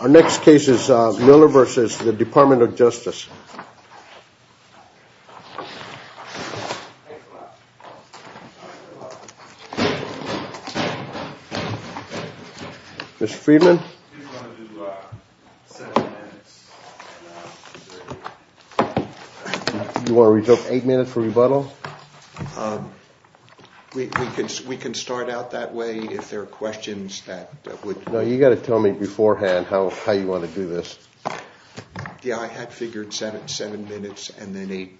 Our next case is Miller v. Department of Justice. Mr. Friedman. You want to reserve eight minutes for rebuttal? No. We can start out that way if there are questions that would... No, you've got to tell me beforehand how you want to do this. Yeah, I had figured seven minutes and then eight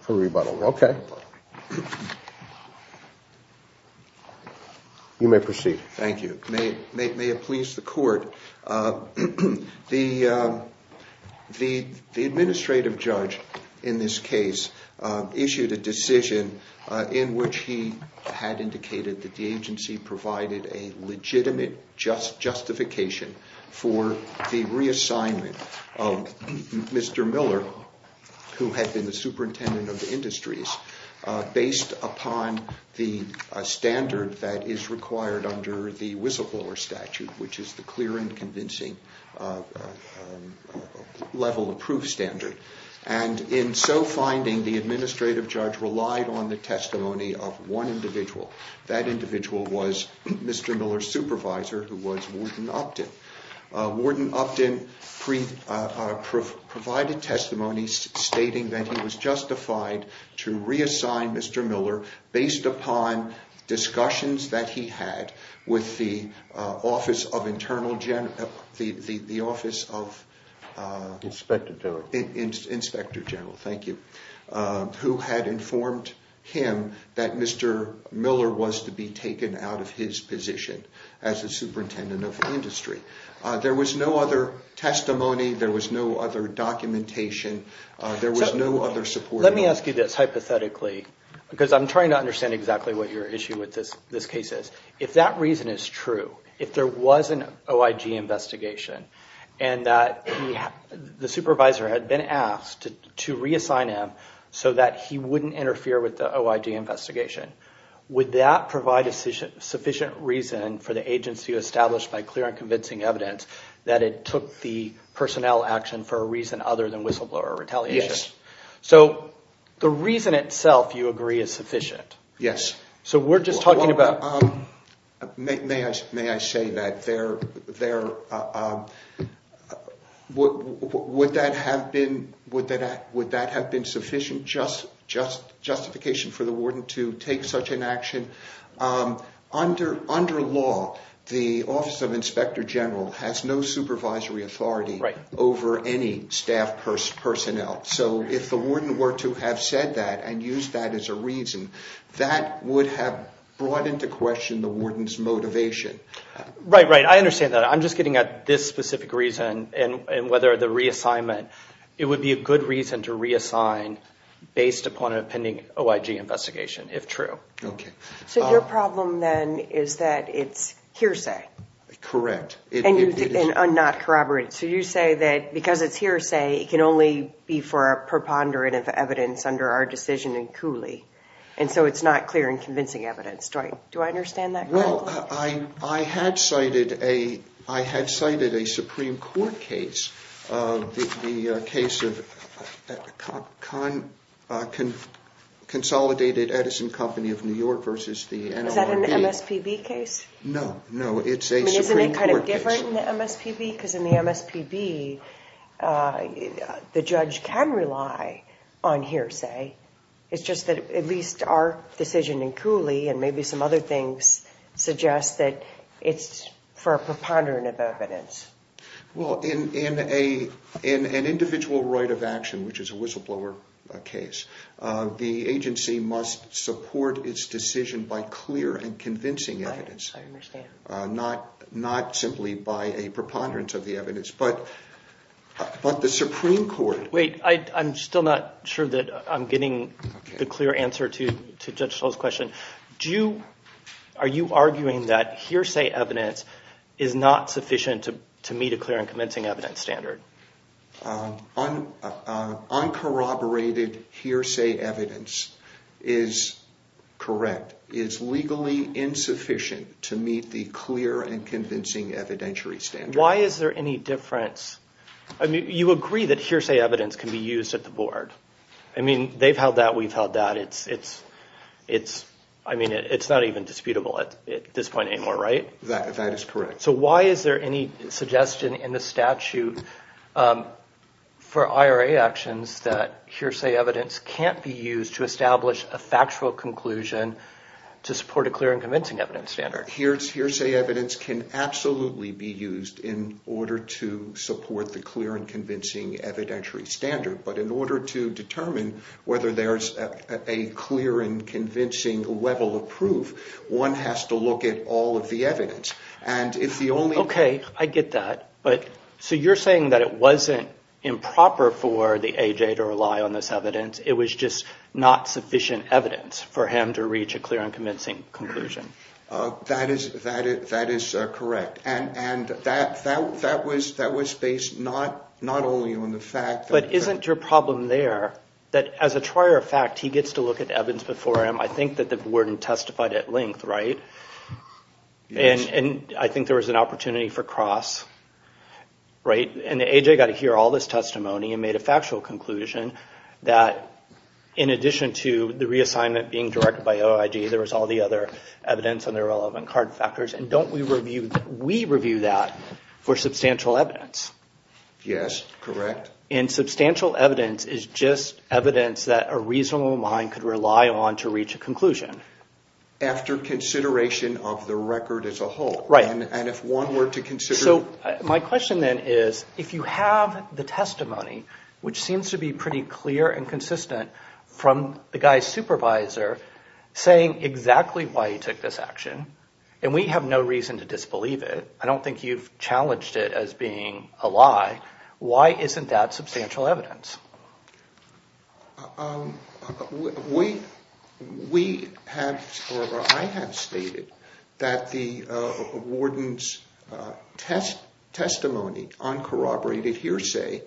for rebuttal. Okay. You may proceed. Thank you. May it please the court. The administrative judge in this case issued a decision in which he had indicated that the agency provided a legitimate justification for the reassignment of Mr. Miller, who had been the superintendent of the industries, based upon the standard that is required under the whistleblower statute, which is the clear and convincing level of proof standard. And in so finding, the administrative judge relied on the testimony of one individual. That individual was Mr. Miller's supervisor, who was Warden Upton. Warden Upton provided testimony stating that he was justified to reassign Mr. Miller based upon discussions that he had with the Office of Internal... the Office of... Inspector General. Inspector General. Thank you. Who had informed him that Mr. Miller was to be taken out of his position as the superintendent of the industry. There was no other testimony. There was no other documentation. There was no other support. Let me ask you this hypothetically, because I'm trying to understand exactly what your issue with this case is. If that reason is true, if there was an OIG investigation and that the supervisor had been asked to reassign him so that he wouldn't interfere with the OIG investigation, would that provide a sufficient reason for the agency to establish by clear and convincing evidence that it took the personnel action for a reason other than whistleblower retaliation? Yes. So the reason itself, you agree, is sufficient. Yes. So we're just talking about... May I say that there... would that have been sufficient justification for the warden to take such an action? Under law, the Office of Inspector General has no supervisory authority over any staff personnel. So if the warden were to have said that and used that as a reason, that would have brought into question the warden's motivation. Right, right. I understand that. I'm just getting at this specific reason and whether the reassignment... It would be a good reason to reassign based upon a pending OIG investigation, if true. Okay. So your problem then is that it's hearsay. Correct. And not corroborated. So you say that because it's hearsay, it can only be for a preponderance of evidence under our decision in Cooley, and so it's not clear and convincing evidence. Do I understand that correctly? Well, I had cited a Supreme Court case, the case of Consolidated Edison Company of New York versus the NLRB. Is that an MSPB case? No, no. It's a Supreme Court case. I mean, isn't it kind of different in the MSPB? Because in the MSPB, the judge can rely on hearsay. It's just that at least our decision in Cooley and maybe some other things suggest that it's for a preponderance of evidence. Well, in an individual right of action, which is a whistleblower case, the agency must support its decision by clear and convincing evidence. I understand. Not simply by a preponderance of the evidence, but the Supreme Court... Getting the clear answer to Judge Scholl's question, are you arguing that hearsay evidence is not sufficient to meet a clear and convincing evidence standard? Uncorroborated hearsay evidence is correct. It's legally insufficient to meet the clear and convincing evidentiary standard. You agree that hearsay evidence can be used at the board. I mean, they've held that, we've held that. It's not even disputable at this point anymore, right? That is correct. So why is there any suggestion in the statute for IRA actions that hearsay evidence can't be used to establish a factual conclusion to support a clear and convincing evidence standard? Hearsay evidence can absolutely be used in order to support the clear and convincing evidentiary standard. But in order to determine whether there's a clear and convincing level of proof, one has to look at all of the evidence. Okay, I get that. So you're saying that it wasn't improper for the AJ to rely on this evidence. It was just not sufficient evidence for him to reach a clear and convincing conclusion. That is correct. And that was based not only on the fact that... But isn't your problem there that as a trier of fact, he gets to look at evidence before him? I think that the warden testified at length, right? And I think there was an opportunity for cross, right? And the AJ got to hear all this testimony and made a factual conclusion that in addition to the reassignment being directed by OIG, there was all the other evidence and the relevant card factors. And don't we review that for substantial evidence? Yes, correct. And substantial evidence is just evidence that a reasonable mind could rely on to reach a conclusion. After consideration of the record as a whole. Right. And if one were to consider... So my question then is, if you have the testimony, which seems to be pretty clear and consistent from the guy's supervisor, saying exactly why he took this action, and we have no reason to disbelieve it. I don't think you've challenged it as being a lie. Why isn't that substantial evidence? We have, or I have stated that the warden's testimony on corroborated hearsay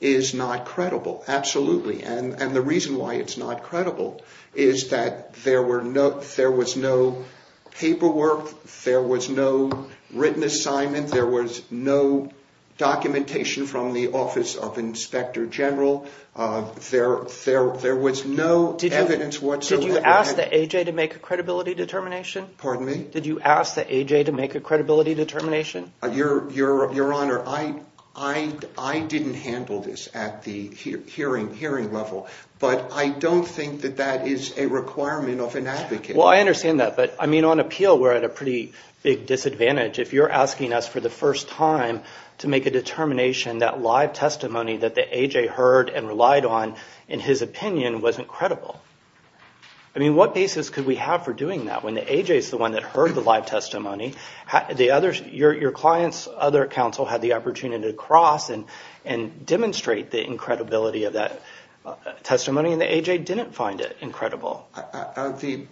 is not credible, absolutely. And the reason why it's not credible is that there was no paperwork, there was no written assignment, there was no documentation from the Office of Inspector General. There was no evidence whatsoever. Did you ask the AJ to make a credibility determination? Pardon me? Did you ask the AJ to make a credibility determination? Your Honor, I didn't handle this at the hearing level, but I don't think that that is a requirement of an advocate. Well, I understand that, but on appeal we're at a pretty big disadvantage. If you're asking us for the first time to make a determination, that live testimony that the AJ heard and relied on, in his opinion, wasn't credible. I mean, what basis could we have for doing that? When the AJ is the one that heard the live testimony, your client's other counsel had the opportunity to cross and demonstrate the incredibility of that testimony, and the AJ didn't find it incredible.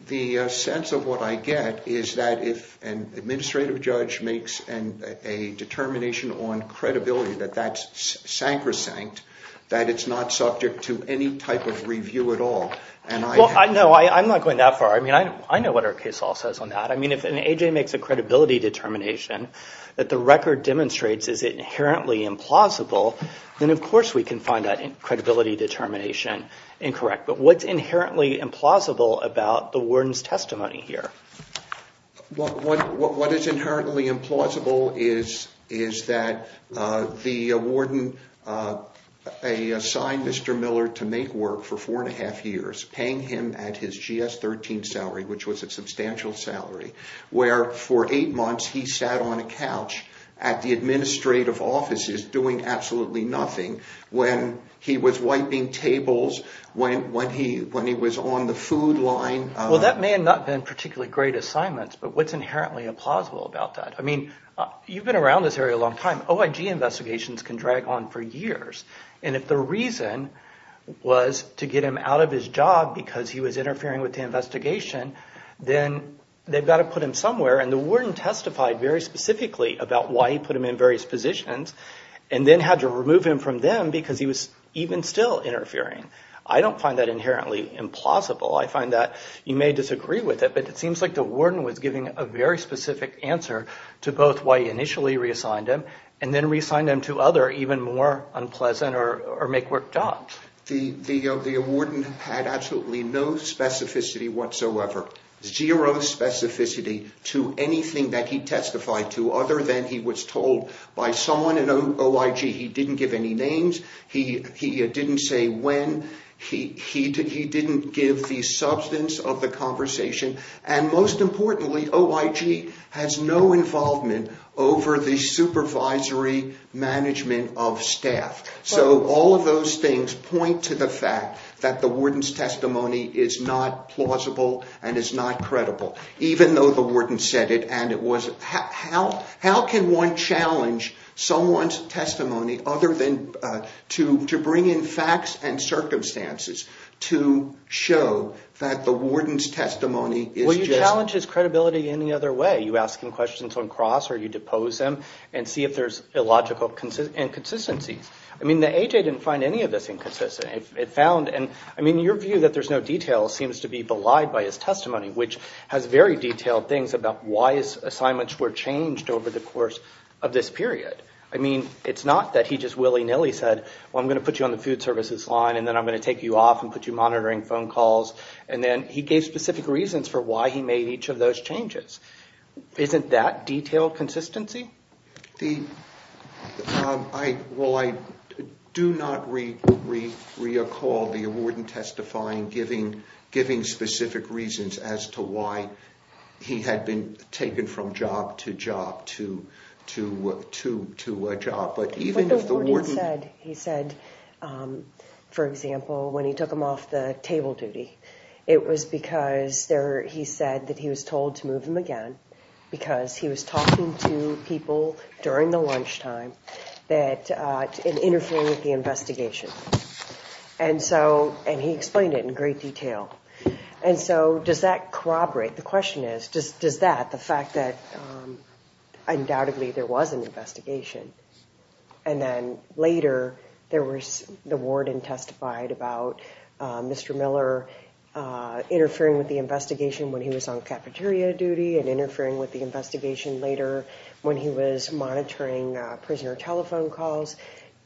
The sense of what I get is that if an administrative judge makes a determination on credibility that that's sacrosanct, that it's not subject to any type of review at all. Well, no, I'm not going that far. I mean, I know what our case law says on that. I mean, if an AJ makes a credibility determination that the record demonstrates is inherently implausible, then of course we can find that credibility determination incorrect. But what's inherently implausible about the warden's testimony here? What is inherently implausible is that the warden assigned Mr. Miller to make work for four and a half years, paying him at his GS-13 salary, which was a substantial salary, where for eight months he sat on a couch at the administrative offices doing absolutely nothing when he was wiping tables, when he was on the food line. Well, that may have not been particularly great assignments, but what's inherently implausible about that? I mean, you've been around this area a long time. OIG investigations can drag on for years, and if the reason was to get him out of his job because he was interfering with the investigation, then they've got to put him somewhere. And the warden testified very specifically about why he put him in various positions and then had to remove him from them because he was even still interfering. I don't find that inherently implausible. I find that you may disagree with it, but it seems like the warden was giving a very specific answer to both why he initially reassigned him and then reassigned him to other even more unpleasant or make-work jobs. The warden had absolutely no specificity whatsoever, zero specificity to anything that he testified to other than he was told by someone in OIG he didn't give any names, he didn't say when, he didn't give the substance of the conversation, and most importantly, OIG has no involvement over the supervisory management of staff. So all of those things point to the fact that the warden's testimony is not plausible and is not credible, even though the warden said it. How can one challenge someone's testimony other than to bring in facts and circumstances to show that the warden's testimony is just… Well, you challenge his credibility any other way. You ask him questions on cross or you depose him and see if there's illogical inconsistencies. I mean, the AJ didn't find any of this inconsistent. It found… I mean, your view that there's no details seems to be belied by his testimony, which has very detailed things about why his assignments were changed over the course of this period. I mean, it's not that he just willy-nilly said, well, I'm going to put you on the food services line and then I'm going to take you off and put you monitoring phone calls. And then he gave specific reasons for why he made each of those changes. Isn't that detailed consistency? Well, I do not recall the warden testifying giving specific reasons as to why he had been taken from job to job to a job. But even if the warden… For example, when he took him off the table duty, it was because there… He said that he was told to move him again because he was talking to people during the lunchtime that interfered with the investigation. And so… And he explained it in great detail. And so does that corroborate? The question is, does that, the fact that undoubtedly there was an investigation and then later there was the warden testified about Mr. Miller interfering with the investigation when he was on cafeteria duty and interfering with the investigation later when he was monitoring prisoner telephone calls.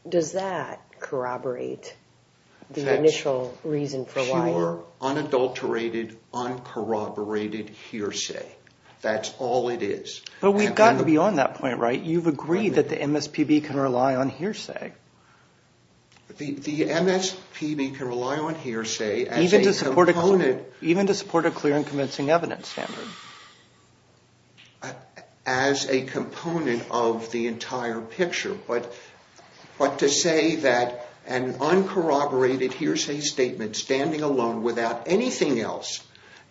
Does that corroborate the initial reason for why… Uncorroborated hearsay. That's all it is. But we've gotten beyond that point, right? You've agreed that the MSPB can rely on hearsay. The MSPB can rely on hearsay as a component… Even to support a clear and convincing evidence standard. As a component of the entire picture. But to say that an uncorroborated hearsay statement standing alone without anything else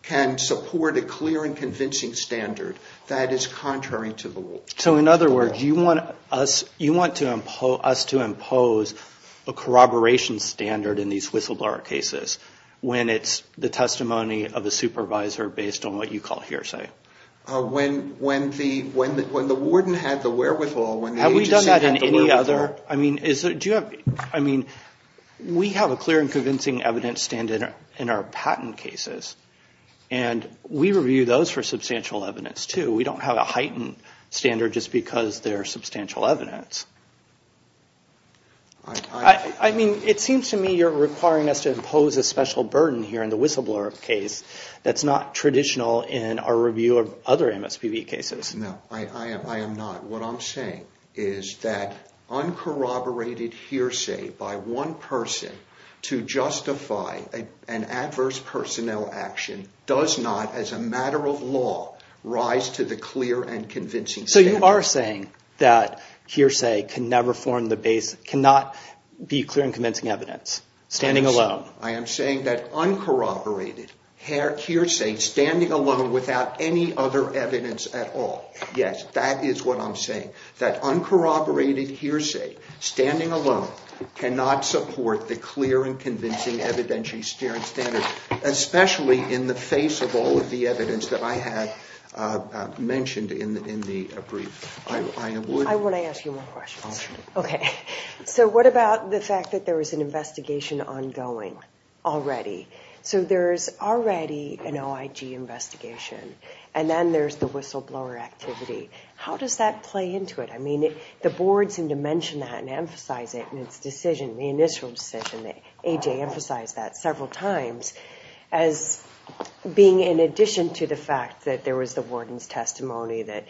can support a clear and convincing standard, that is contrary to the rule. So in other words, you want us to impose a corroboration standard in these whistleblower cases when it's the testimony of a supervisor based on what you call hearsay. When the warden had the wherewithal… Have we done that in any other… I mean, do you have… I mean, we have a clear and convincing evidence standard in our patent cases. And we review those for substantial evidence, too. We don't have a heightened standard just because they're substantial evidence. I mean, it seems to me you're requiring us to impose a special burden here in the whistleblower case that's not traditional in our review of other MSPB cases. No, I am not. What I'm saying is that uncorroborated hearsay by one person to justify an adverse personnel action does not, as a matter of law, rise to the clear and convincing standard. So you are saying that hearsay cannot be clear and convincing evidence standing alone. I am saying that uncorroborated hearsay standing alone without any other evidence at all. Yes, that is what I'm saying, that uncorroborated hearsay standing alone cannot support the clear and convincing evidence standard, especially in the face of all of the evidence that I have mentioned in the brief. I want to ask you more questions. Okay. So what about the fact that there is an investigation ongoing already? So there's already an OIG investigation, and then there's the whistleblower activity. How does that play into it? I mean, the board seemed to mention that and emphasize it in its decision, the initial decision. AJ emphasized that several times as being in addition to the fact that there was the warden's testimony, that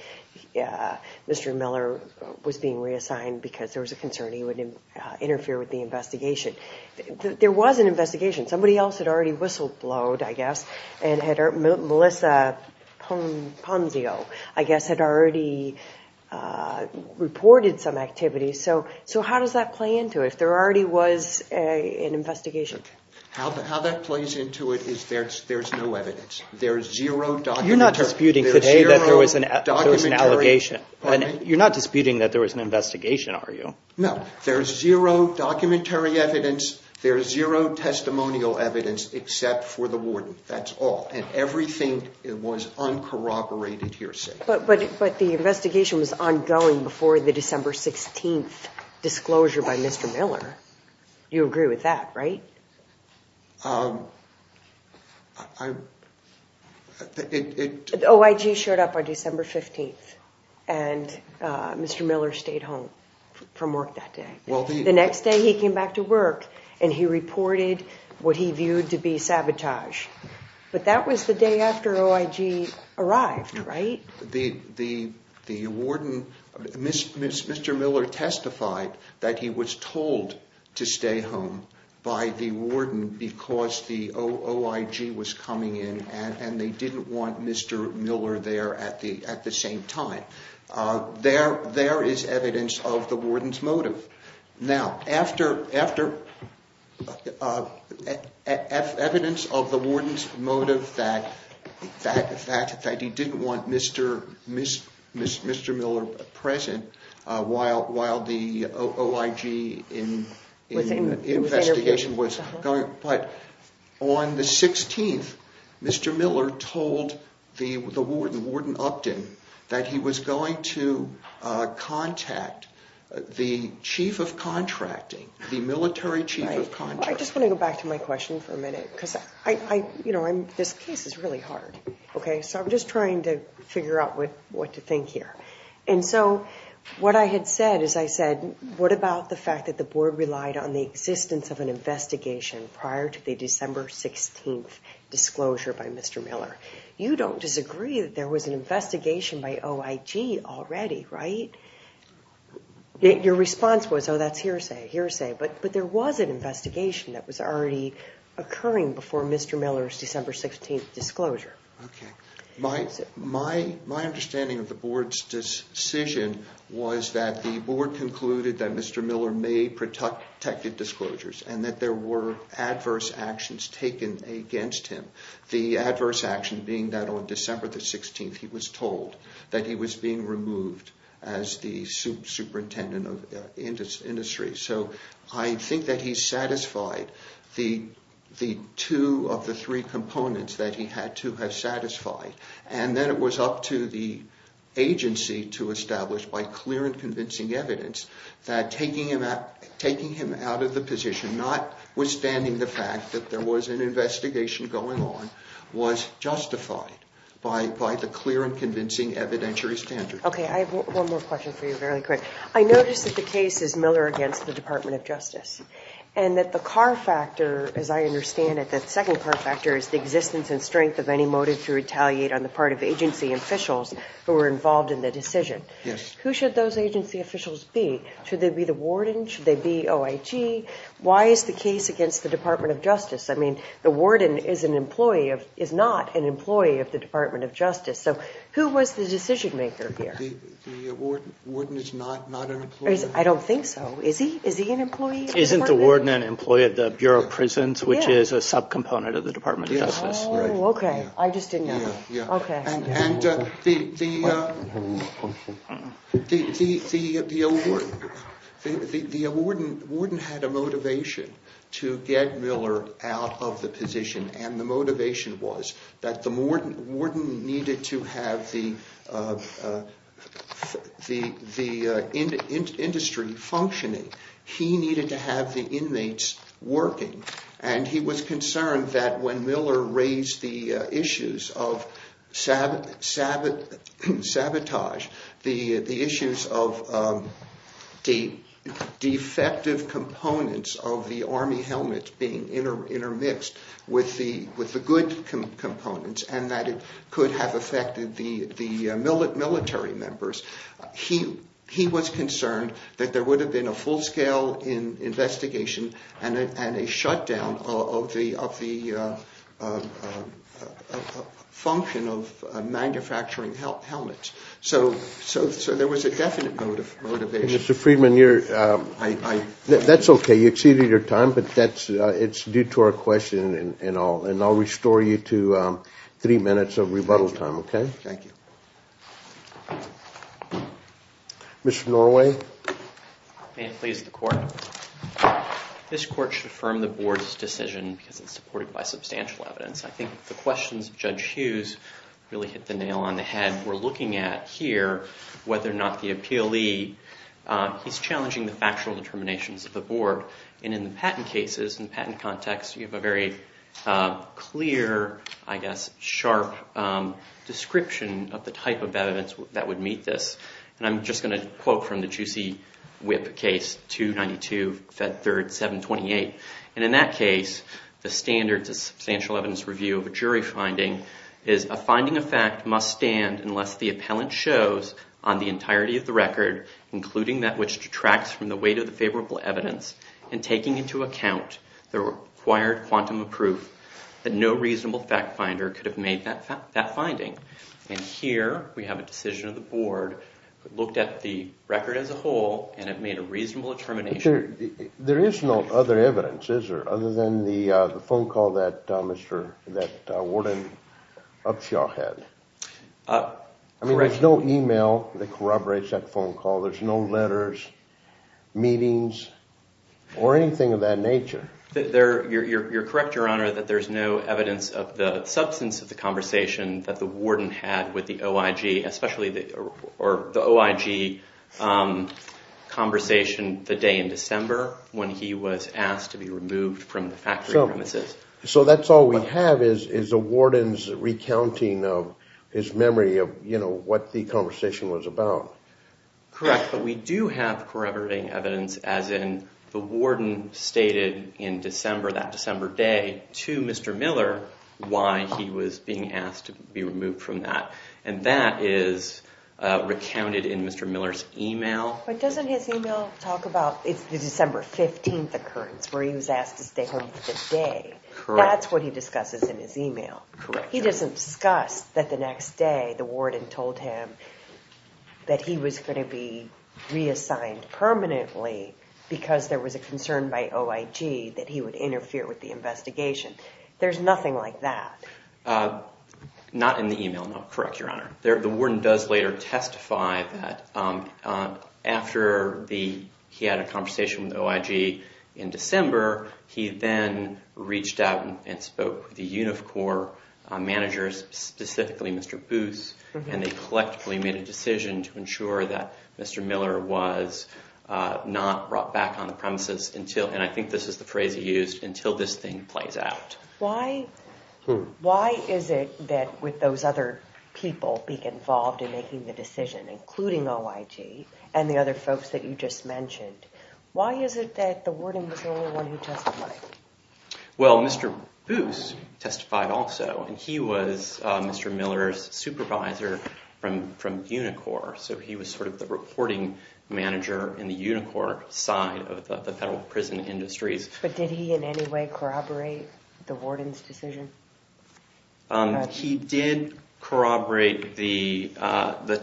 Mr. Miller was being reassigned because there was a concern he would interfere with the investigation. There was an investigation. Somebody else had already whistleblowed, I guess, and Melissa Ponzio, I guess, had already reported some activities. So how does that play into it, if there already was an investigation? Okay. How that plays into it is there's no evidence. There's zero documentary. You're not disputing today that there was an allegation. You're not disputing that there was an investigation, are you? No. There's zero documentary evidence. There's zero testimonial evidence except for the warden. That's all, and everything was uncorroborated hearsay. But the investigation was ongoing before the December 16th disclosure by Mr. Miller. You agree with that, right? OIG showed up on December 15th, and Mr. Miller stayed home from work that day. The next day he came back to work, and he reported what he viewed to be sabotage. But that was the day after OIG arrived, right? Mr. Miller testified that he was told to stay home by the warden because the OIG was coming in, and they didn't want Mr. Miller there at the same time. There is evidence of the warden's motive. Now, after evidence of the warden's motive that he didn't want Mr. Miller present while the OIG investigation was going, but on the 16th, Mr. Miller told the warden, Warden Upton, that he was going to contact the chief of contracting, the military chief of contracting. I just want to go back to my question for a minute because this case is really hard. So I'm just trying to figure out what to think here. What I had said is I said, what about the fact that the board relied on the existence of an investigation prior to the December 16th disclosure by Mr. Miller? You don't disagree that there was an investigation by OIG already, right? Your response was, oh, that's hearsay, hearsay. But there was an investigation that was already occurring before Mr. Miller's December 16th disclosure. My understanding of the board's decision was that the board concluded that Mr. Miller made protected disclosures and that there were adverse actions taken against him. The adverse action being that on December 16th, he was told that he was being removed as the superintendent of industry. So I think that he satisfied the two of the three components that he had to have satisfied. And then it was up to the agency to establish by clear and convincing evidence that taking him out of the position, notwithstanding the fact that there was an investigation going on, was justified by the clear and convincing evidentiary standards. Okay, I have one more question for you, very quick. I noticed that the case is Miller against the Department of Justice. And that the car factor, as I understand it, that second car factor is the existence and strength of any motive to retaliate on the part of agency officials who were involved in the decision. Yes. Who should those agency officials be? Should they be the warden? Should they be OIG? Why is the case against the Department of Justice? I mean, the warden is not an employee of the Department of Justice. So who was the decision maker here? The warden is not an employee. I don't think so. Is he an employee? Isn't the warden an employee of the Bureau of Prisons, which is a subcomponent of the Department of Justice? Oh, okay. I just didn't know. Okay. And the warden had a motivation to get Miller out of the position. And the motivation was that the warden needed to have the industry functioning. He needed to have the inmates working. And he was concerned that when Miller raised the issues of sabotage, the issues of the defective components of the Army helmets being intermixed with the good components, and that it could have affected the military members, he was concerned that there would have been a full-scale investigation and a shutdown of the function of manufacturing helmets. So there was a definite motivation. Mr. Friedman, that's okay. You exceeded your time, but it's due to our question and all. And I'll restore you to three minutes of rebuttal time, okay? Thank you. Mr. Norway? May it please the Court? This Court should affirm the Board's decision because it's supported by substantial evidence. I think the questions of Judge Hughes really hit the nail on the head. We're looking at here whether or not the appealee is challenging the factual determinations of the Board. And in the patent cases, in the patent context, you have a very clear, I guess, sharp description of the type of evidence that would meet this. And I'm just going to quote from the Juicy Whip case, 292, Fed 3rd, 728. And in that case, the standards of substantial evidence review of a jury finding is, a finding of fact must stand unless the appellant shows on the entirety of the record, including that which detracts from the weight of the favorable evidence, and taking into account the required quantum of proof that no reasonable fact finder could have made that finding. And here we have a decision of the Board that looked at the record as a whole and it made a reasonable determination. But there is no other evidence, is there, other than the phone call that Warden Upshaw had? I mean, there's no email that corroborates that phone call. There's no letters, meetings, or anything of that nature. You're correct, Your Honor, that there's no evidence of the substance of the conversation that the warden had with the OIG, especially the OIG conversation the day in December when he was asked to be removed from the factory premises. So that's all we have is a warden's recounting of his memory of, you know, what the conversation was about. Correct, but we do have corroborating evidence, as in the warden stated in December, that December day, to Mr. Miller why he was being asked to be removed from that. And that is recounted in Mr. Miller's email. But doesn't his email talk about the December 15th occurrence where he was asked to stay home for the day? Correct. That's what he discusses in his email. Correct. He doesn't discuss that the next day the warden told him that he was going to be reassigned permanently because there was a concern by OIG that he would interfere with the investigation. There's nothing like that. Not in the email, no. Correct, Your Honor. The warden does later testify that after he had a conversation with OIG in December, he then reached out and spoke with the UNIFCOR managers, specifically Mr. Booth, and they collectively made a decision to ensure that Mr. Miller was not brought back on the premises until, and I think this is the phrase he used, until this thing plays out. Why is it that with those other people being involved in making the decision, including OIG and the other folks that you just mentioned, why is it that the warden was the only one who testified? Well, Mr. Booth testified also, and he was Mr. Miller's supervisor from UNIFCOR, so he was sort of the reporting manager in the UNIFCOR side of the federal prison industries. But did he in any way corroborate the warden's decision? He did corroborate the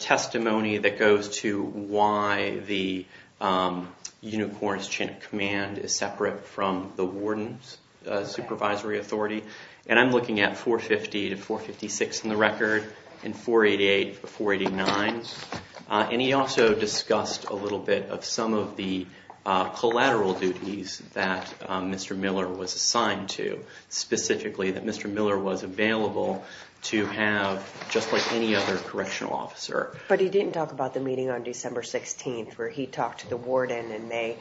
testimony that goes to why the UNIFCOR's chain of command is separate from the warden's supervisory authority, and I'm looking at 450 to 456 in the record, and 488 to 489, and he also discussed a little bit of some of the collateral duties that Mr. Miller was assigned to, specifically that Mr. Miller was available to have, just like any other correctional officer. But he didn't talk about the meeting on December 16th where he talked to the warden and they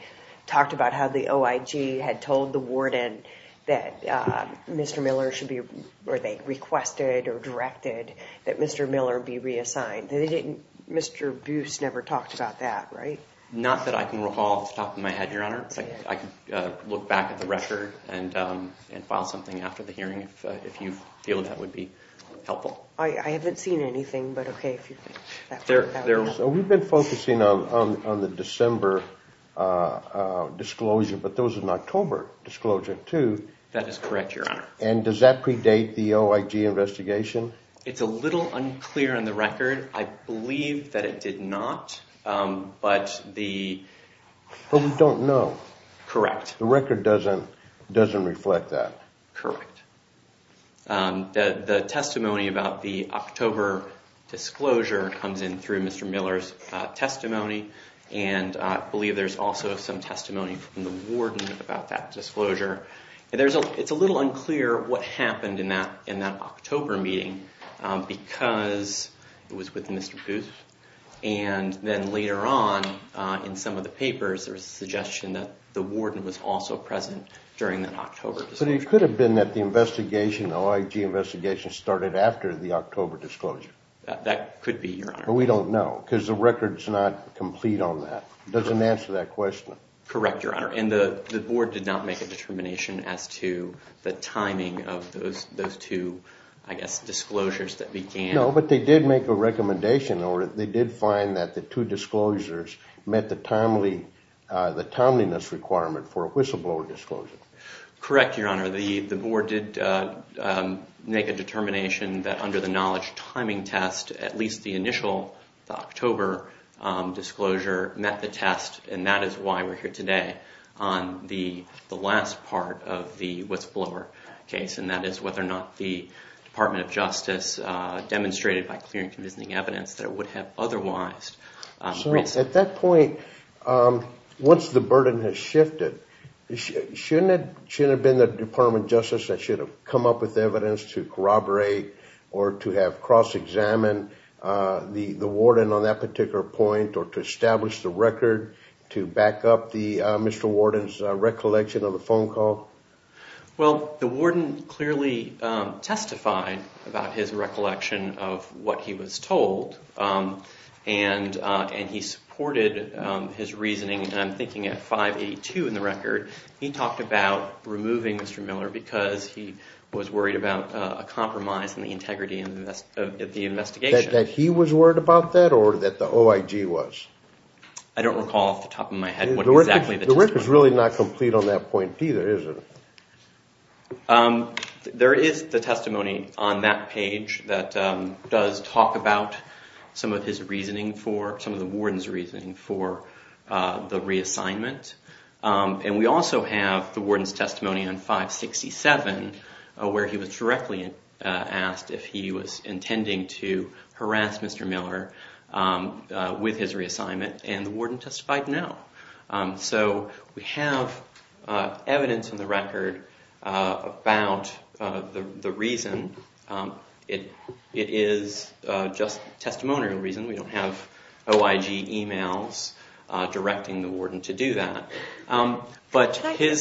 talked about how the OIG had told the warden that Mr. Miller should be, or they requested or directed that Mr. Miller be reassigned. Mr. Booth never talked about that, right? Not that I can recall off the top of my head, Your Honor. I can look back at the record and file something after the hearing if you feel that would be helpful. I haven't seen anything, but okay. So we've been focusing on the December disclosure, but there was an October disclosure too. That is correct, Your Honor. And does that predate the OIG investigation? It's a little unclear in the record. I believe that it did not, but the— But we don't know. Correct. The record doesn't reflect that. Correct. The testimony about the October disclosure comes in through Mr. Miller's testimony, It's a little unclear what happened in that October meeting because it was with Mr. Booth, and then later on in some of the papers there was a suggestion that the warden was also present during that October disclosure. But it could have been that the investigation, the OIG investigation, started after the October disclosure. That could be, Your Honor. But we don't know because the record's not complete on that. Correct, Your Honor. And the board did not make a determination as to the timing of those two, I guess, disclosures that began— No, but they did make a recommendation, or they did find that the two disclosures met the timeliness requirement for a whistleblower disclosure. Correct, Your Honor. The board did make a determination that under the knowledge timing test, at least the initial October disclosure met the test, and that is why we're here today on the last part of the whistleblower case, and that is whether or not the Department of Justice demonstrated by clear and convincing evidence that it would have otherwise. So at that point, once the burden has shifted, shouldn't it have been the Department of Justice that should have come up with evidence to corroborate or to have cross-examined the warden on that particular point or to establish the record to back up Mr. Warden's recollection of the phone call? Well, the warden clearly testified about his recollection of what he was told, and he supported his reasoning, and I'm thinking at 582 in the record. He talked about removing Mr. Miller because he was worried about a compromise in the integrity of the investigation. That he was worried about that or that the OIG was? I don't recall off the top of my head what exactly the testimony was. The record's really not complete on that point either, is it? There is the testimony on that page that does talk about some of his reasoning for, some of the warden's reasoning for the reassignment, and we also have the warden's testimony on 567, where he was directly asked if he was intending to harass Mr. Miller with his reassignment, and the warden testified no. So we have evidence in the record about the reason. It is just testimonial reason. We don't have OIG emails directing the warden to do that. I'm sorry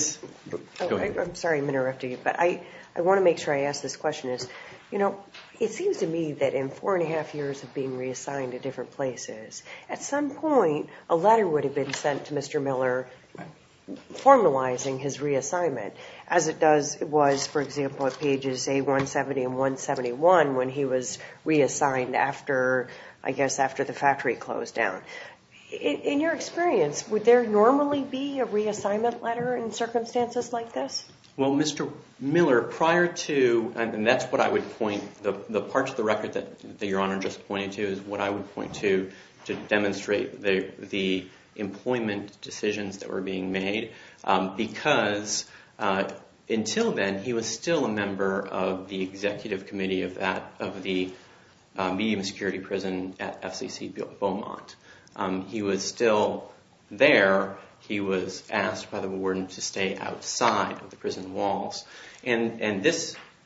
I'm interrupting you, but I want to make sure I ask this question. It seems to me that in four and a half years of being reassigned to different places, at some point a letter would have been sent to Mr. Miller formalizing his reassignment, as it was, for example, at pages A170 and 171 when he was reassigned after the factory closed down. In your experience, would there normally be a reassignment letter in circumstances like this? Well, Mr. Miller, prior to, and that's what I would point, the parts of the record that Your Honor just pointed to is what I would point to to demonstrate the employment decisions that were being made, because until then he was still a member of the executive committee of the medium of security prison at FCC Beaumont. He was still there. He was asked by the warden to stay outside of the prison walls, and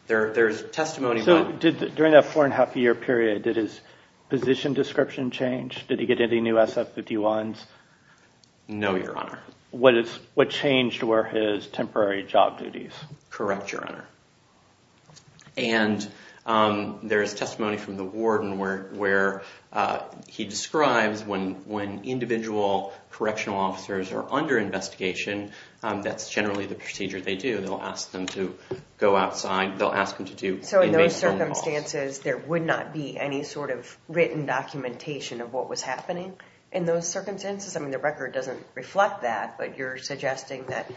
there's testimony about that. So during that four and a half year period, did his position description change? Did he get any new SF-51s? No, Your Honor. What changed were his temporary job duties? Correct, Your Honor. And there is testimony from the warden where he describes when individual correctional officers are under investigation, that's generally the procedure they do. They'll ask them to go outside. They'll ask them to do invasion of the walls. So in those circumstances, there would not be any sort of written documentation of what was happening in those circumstances? I mean, the record doesn't reflect that, but you're suggesting that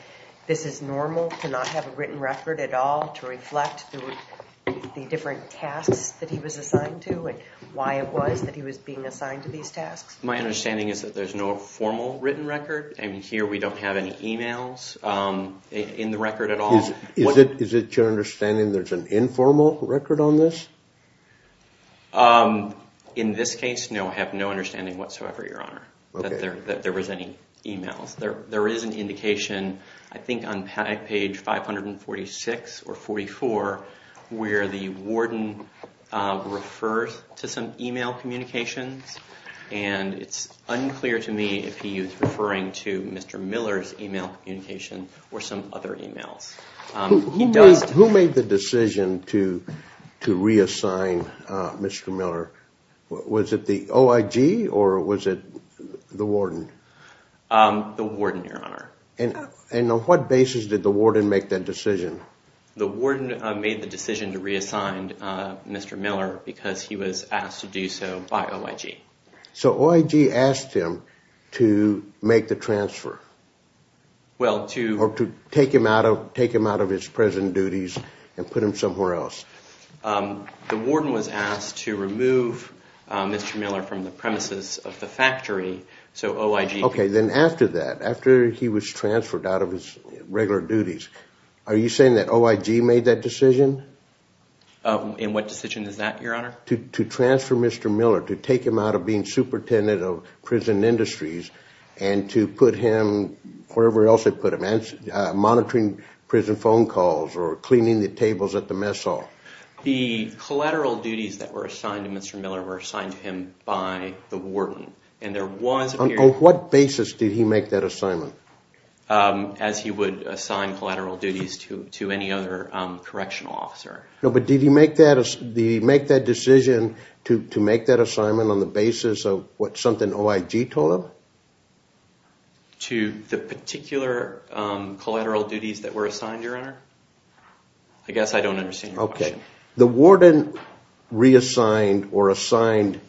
this is normal to not have a written record at all to reflect the different tasks that he was assigned to and why it was that he was being assigned to these tasks? My understanding is that there's no formal written record, and here we don't have any emails in the record at all. Is it your understanding there's an informal record on this? In this case, no, I have no understanding whatsoever, Your Honor, that there was any emails. There is an indication, I think on page 546 or 544, where the warden refers to some email communications, and it's unclear to me if he is referring to Mr. Miller's email communication or some other emails. Who made the decision to reassign Mr. Miller? Was it the OIG or was it the warden? The warden, Your Honor. And on what basis did the warden make that decision? The warden made the decision to reassign Mr. Miller because he was asked to do so by OIG. So OIG asked him to make the transfer? Or to take him out of his present duties and put him somewhere else? The warden was asked to remove Mr. Miller from the premises of the factory, so OIG... Okay, then after that, after he was transferred out of his regular duties, are you saying that OIG made that decision? And what decision is that, Your Honor? To transfer Mr. Miller, to take him out of being superintendent of prison industries, and to put him wherever else they put him? Monitoring prison phone calls or cleaning the tables at the mess hall? The collateral duties that were assigned to Mr. Miller were assigned to him by the warden. And there was a period... On what basis did he make that assignment? As he would assign collateral duties to any other correctional officer. No, but did he make that decision to make that assignment on the basis of what something OIG told him? To the particular collateral duties that were assigned, Your Honor? I guess I don't understand your question. Okay. The warden reassigned or assigned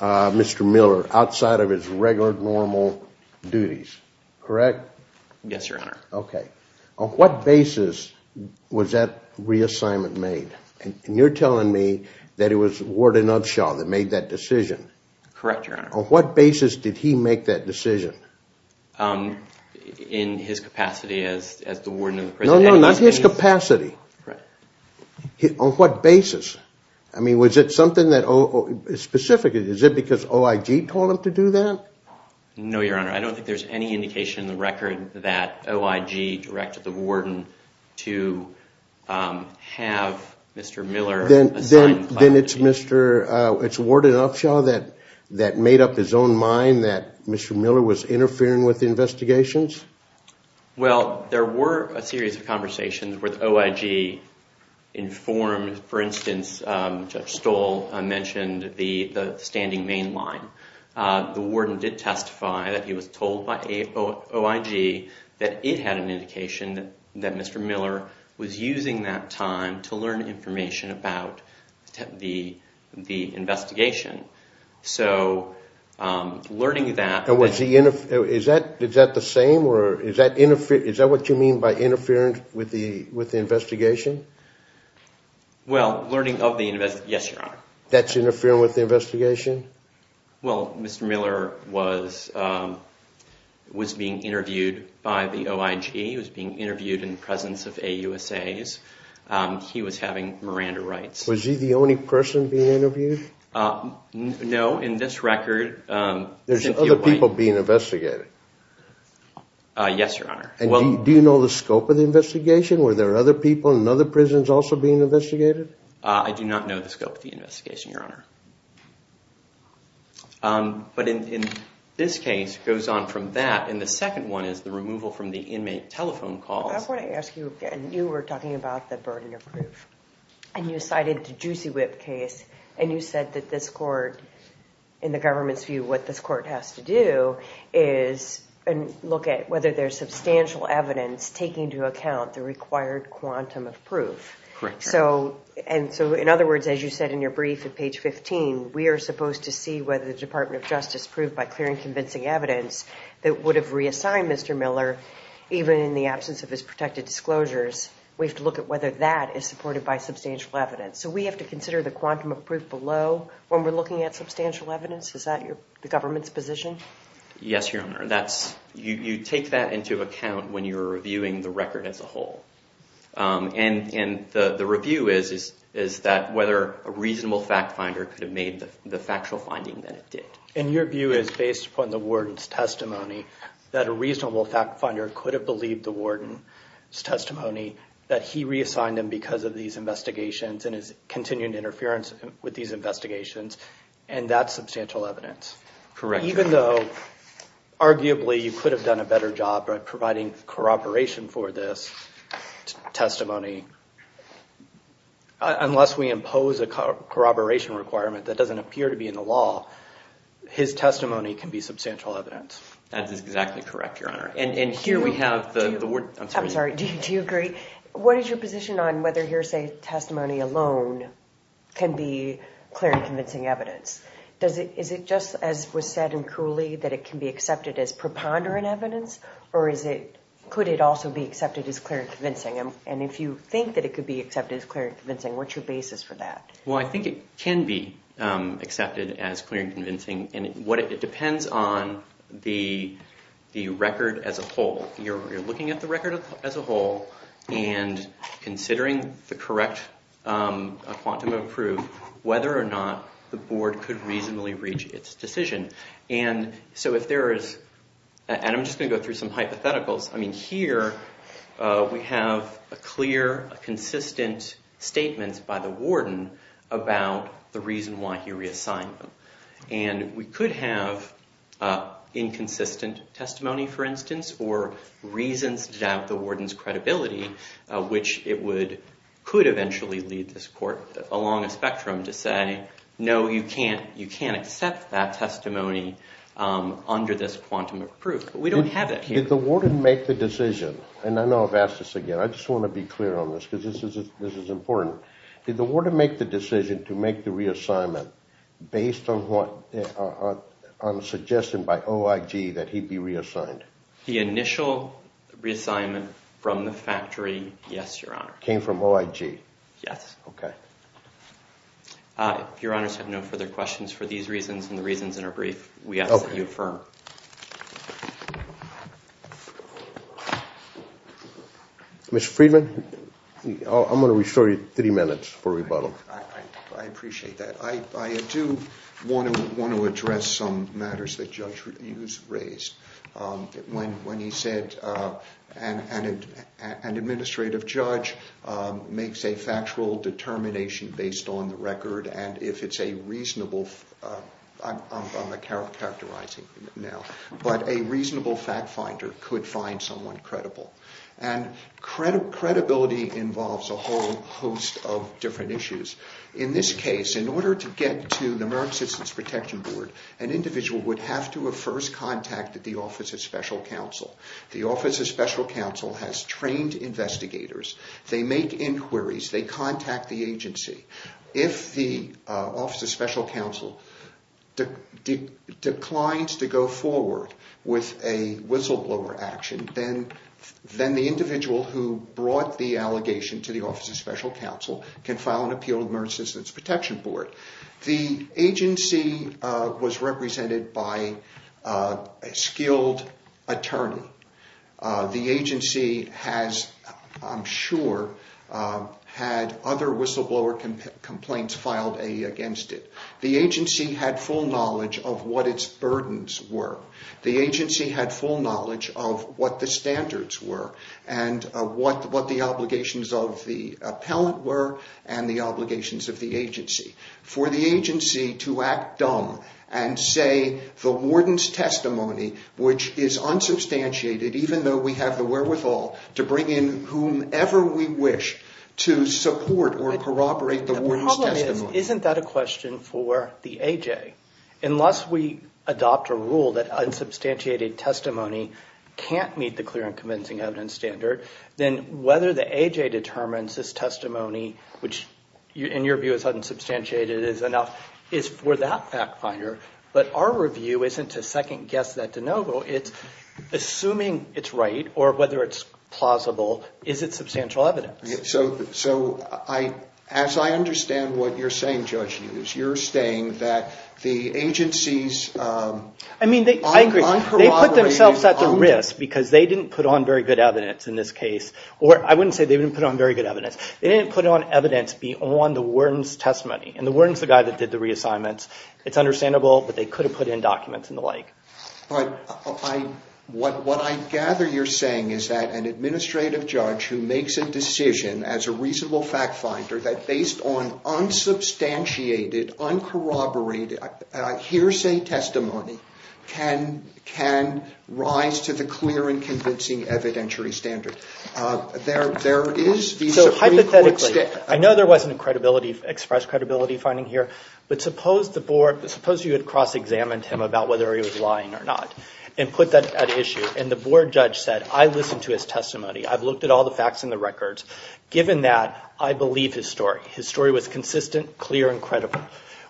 Mr. Miller outside of his regular normal duties, correct? Yes, Your Honor. Okay. On what basis was that reassignment made? And you're telling me that it was Warden Upshaw that made that decision? Correct, Your Honor. On what basis did he make that decision? In his capacity as the warden of the prison... No, no, not his capacity. Correct. On what basis? I mean, was it something that... Specifically, is it because OIG told him to do that? No, Your Honor. I don't think there's any indication in the record that OIG directed the warden to have Mr. Miller assign collateral duties. Then it's Warden Upshaw that made up his own mind that Mr. Miller was interfering with the investigations? Well, there were a series of conversations where the OIG informed... For instance, Judge Stoll mentioned the standing main line. The warden did testify that he was told by OIG that it had an indication that Mr. Miller was using that time to learn information about the investigation. So, learning that... Is that the same, or is that what you mean by interfering with the investigation? Well, learning of the... Yes, Your Honor. That's interfering with the investigation? Well, Mr. Miller was being interviewed by the OIG. He was being interviewed in the presence of AUSAs. He was having Miranda rights. Was he the only person being interviewed? No, in this record... There's other people being investigated? Yes, Your Honor. Do you know the scope of the investigation? Were there other people in other prisons also being investigated? I do not know the scope of the investigation, Your Honor. But in this case, it goes on from that. And the second one is the removal from the inmate telephone calls. I want to ask you again. You were talking about the burden of proof. And you cited the Juicy Whip case. And you said that this court, in the government's view, what this court has to do is look at whether there's substantial evidence taking into account the required quantum of proof. Correct. And so, in other words, as you said in your brief at page 15, we are supposed to see whether the Department of Justice proved by clear and convincing evidence that would have reassigned Mr. Miller, even in the absence of his protected disclosures. We have to look at whether that is supported by substantial evidence. So we have to consider the quantum of proof below when we're looking at substantial evidence? Is that the government's position? Yes, Your Honor. You take that into account when you're reviewing the record as a whole. And the review is that whether a reasonable fact finder could have made the factual finding that it did. And your view is, based upon the warden's testimony, that a reasonable fact finder could have believed the warden's testimony that he reassigned him because of these investigations and his continued interference with these investigations. And that's substantial evidence? Correct. Even though, arguably, you could have done a better job by providing corroboration for this testimony, unless we impose a corroboration requirement that doesn't appear to be in the law, his testimony can be substantial evidence. That is exactly correct, Your Honor. And here we have the warden. I'm sorry. Do you agree? What is your position on whether hearsay testimony alone can be clear and convincing evidence? Is it just as was said in Cooley that it can be accepted as preponderant evidence? Or could it also be accepted as clear and convincing? And if you think that it could be accepted as clear and convincing, what's your basis for that? Well, I think it can be accepted as clear and convincing. And it depends on the record as a whole. You're looking at the record as a whole and considering the correct quantum of proof, whether or not the board could reasonably reach its decision. And I'm just going to go through some hypotheticals. I mean, here we have a clear, consistent statement by the warden about the reason why he reassigned him. And we could have inconsistent testimony, for instance, or reasons to doubt the warden's credibility, which it could eventually lead this court along a spectrum to say, no, you can't accept that testimony under this quantum of proof. We don't have that here. Did the warden make the decision? And I know I've asked this again. I just want to be clear on this because this is important. Did the warden make the decision to make the reassignment based on a suggestion by OIG that he'd be reassigned? The initial reassignment from the factory, yes, Your Honor. Came from OIG? Yes. Okay. If Your Honors have no further questions for these reasons and the reasons that are brief, we ask that you affirm. Thank you, Your Honor. Mr. Friedman, I'm going to restore you three minutes for rebuttal. I appreciate that. I do want to address some matters that Judge Hughes raised when he said an administrative judge makes a factual determination based on the record, and if it's a reasonable, I'm characterizing it now, but a reasonable fact finder could find someone credible. And credibility involves a whole host of different issues. In this case, in order to get to the American Citizens Protection Board, an individual would have to have first contacted the Office of Special Counsel. The Office of Special Counsel has trained investigators. They contact the agency. If the Office of Special Counsel declines to go forward with a whistleblower action, then the individual who brought the allegation to the Office of Special Counsel can file an appeal to the American Citizens Protection Board. The agency was represented by a skilled attorney. The agency has, I'm sure, had other whistleblower complaints filed against it. The agency had full knowledge of what its burdens were. The agency had full knowledge of what the standards were and what the obligations of the appellant were and the obligations of the agency. For the agency to act dumb and say the warden's testimony, which is unsubstantiated, even though we have the wherewithal to bring in whomever we wish to support or corroborate the warden's testimony. The problem is, isn't that a question for the AJ? Unless we adopt a rule that unsubstantiated testimony can't meet the clear and convincing evidence standard, then whether the AJ determines this testimony, which in your view is unsubstantiated is enough, is for that fact finder. But our review isn't to second-guess that de novo. It's assuming it's right or whether it's plausible. Is it substantial evidence? So as I understand what you're saying, Judge Hughes, you're saying that the agency's uncorroborated... I mean, I agree. They put themselves at the risk because they didn't put on very good evidence in this case. Or I wouldn't say they didn't put on very good evidence. They didn't put on evidence beyond the warden's testimony. And the warden's the guy that did the reassignments. It's understandable that they could have put in documents and the like. But what I gather you're saying is that an administrative judge who makes a decision as a reasonable fact finder that based on unsubstantiated, uncorroborated hearsay testimony can rise to the clear and convincing evidentiary standard. So hypothetically, I know there wasn't express credibility finding here, but suppose you had cross-examined him about whether he was lying or not and put that at issue. And the board judge said, I listened to his testimony. I've looked at all the facts and the records. Given that, I believe his story. His story was consistent, clear, and credible.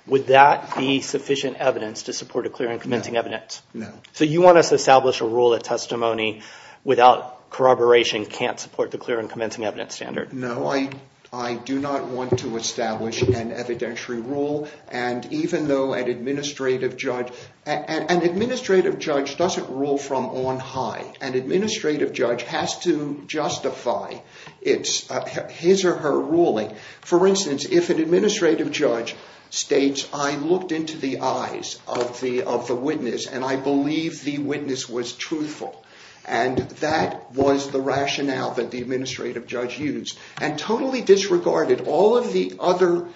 Would that be sufficient evidence to support a clear and convincing evidence? No. So you want us to establish a rule that testimony without corroboration can't support the clear and convincing evidence standard? No, I do not want to establish an evidentiary rule. And even though an administrative judge... An administrative judge doesn't rule from on high. An administrative judge has to justify his or her ruling. For instance, if an administrative judge states, I looked into the eyes of the witness and I believe the witness was truthful, and that was the rationale that the administrative judge used, and totally disregarded all of the other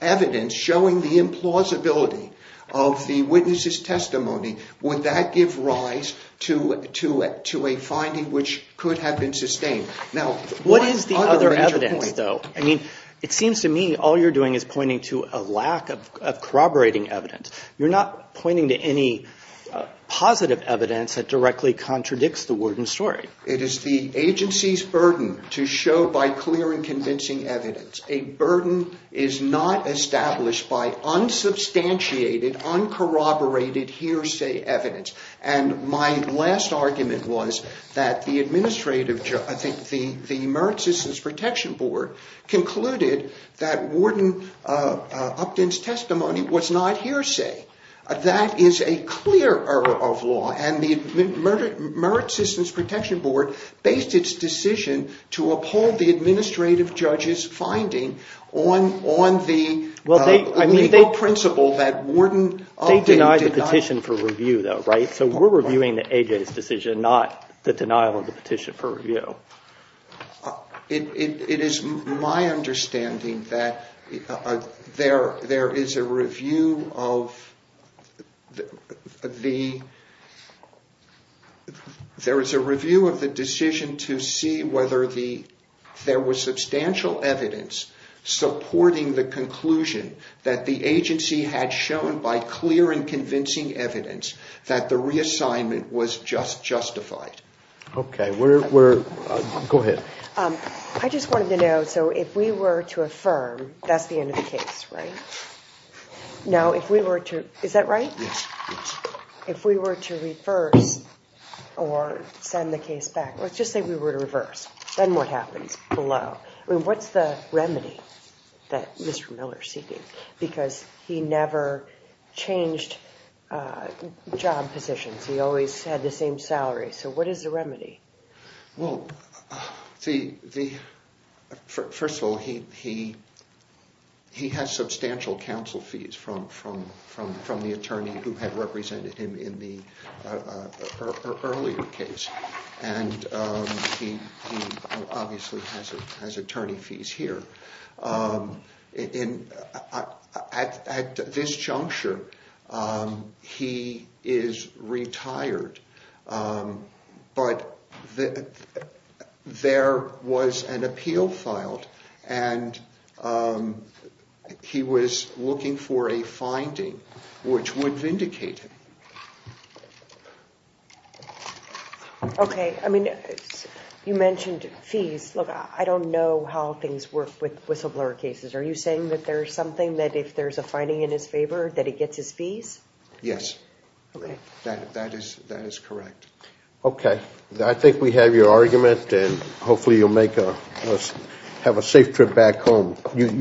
evidence showing the implausibility of the witness's testimony, would that give rise to a finding which could have been sustained? What is the other evidence, though? It seems to me all you're doing is pointing to a lack of corroborating evidence. You're not pointing to any positive evidence that directly contradicts the word and story. It is the agency's burden to show by clear and convincing evidence. A burden is not established by unsubstantiated, uncorroborated hearsay evidence. And my last argument was that the Merit Assistance Protection Board concluded that Warden Upton's testimony was not hearsay. That is a clear error of law. And the Merit Assistance Protection Board based its decision to uphold the administrative judge's finding on the legal principle that Warden Upton denied. They denied the petition for review, though, right? So we're reviewing the AJ's decision, not the denial of the petition for review. It is my understanding that there is a review of the decision to see whether there was substantial evidence supporting the conclusion that the agency had shown by clear and convincing evidence that the reassignment was justified. Okay, go ahead. I just wanted to know, so if we were to affirm that's the end of the case, right? Now, if we were to, is that right? Yes. If we were to reverse or send the case back, let's just say we were to reverse, then what happens below? I mean, what's the remedy that Mr. Miller is seeking? Because he never changed job positions. He always had the same salary. So what is the remedy? Well, first of all, he has substantial counsel fees from the attorney who had represented him in the earlier case. And he obviously has attorney fees here. At this juncture, he is retired. But there was an appeal filed, and he was looking for a finding which would vindicate him. Okay. I mean, you mentioned fees. Look, I don't know how things work with whistleblower cases. Are you saying that there's something that if there's a finding in his favor that he gets his fees? Yes. That is correct. Okay. I think we have your argument, and hopefully you'll have a safe trip back home. Right.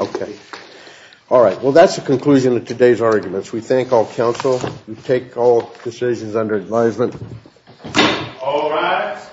Okay. All right. Well, that's the conclusion of today's arguments. We thank all counsel. We take all decisions under advisement. All rise.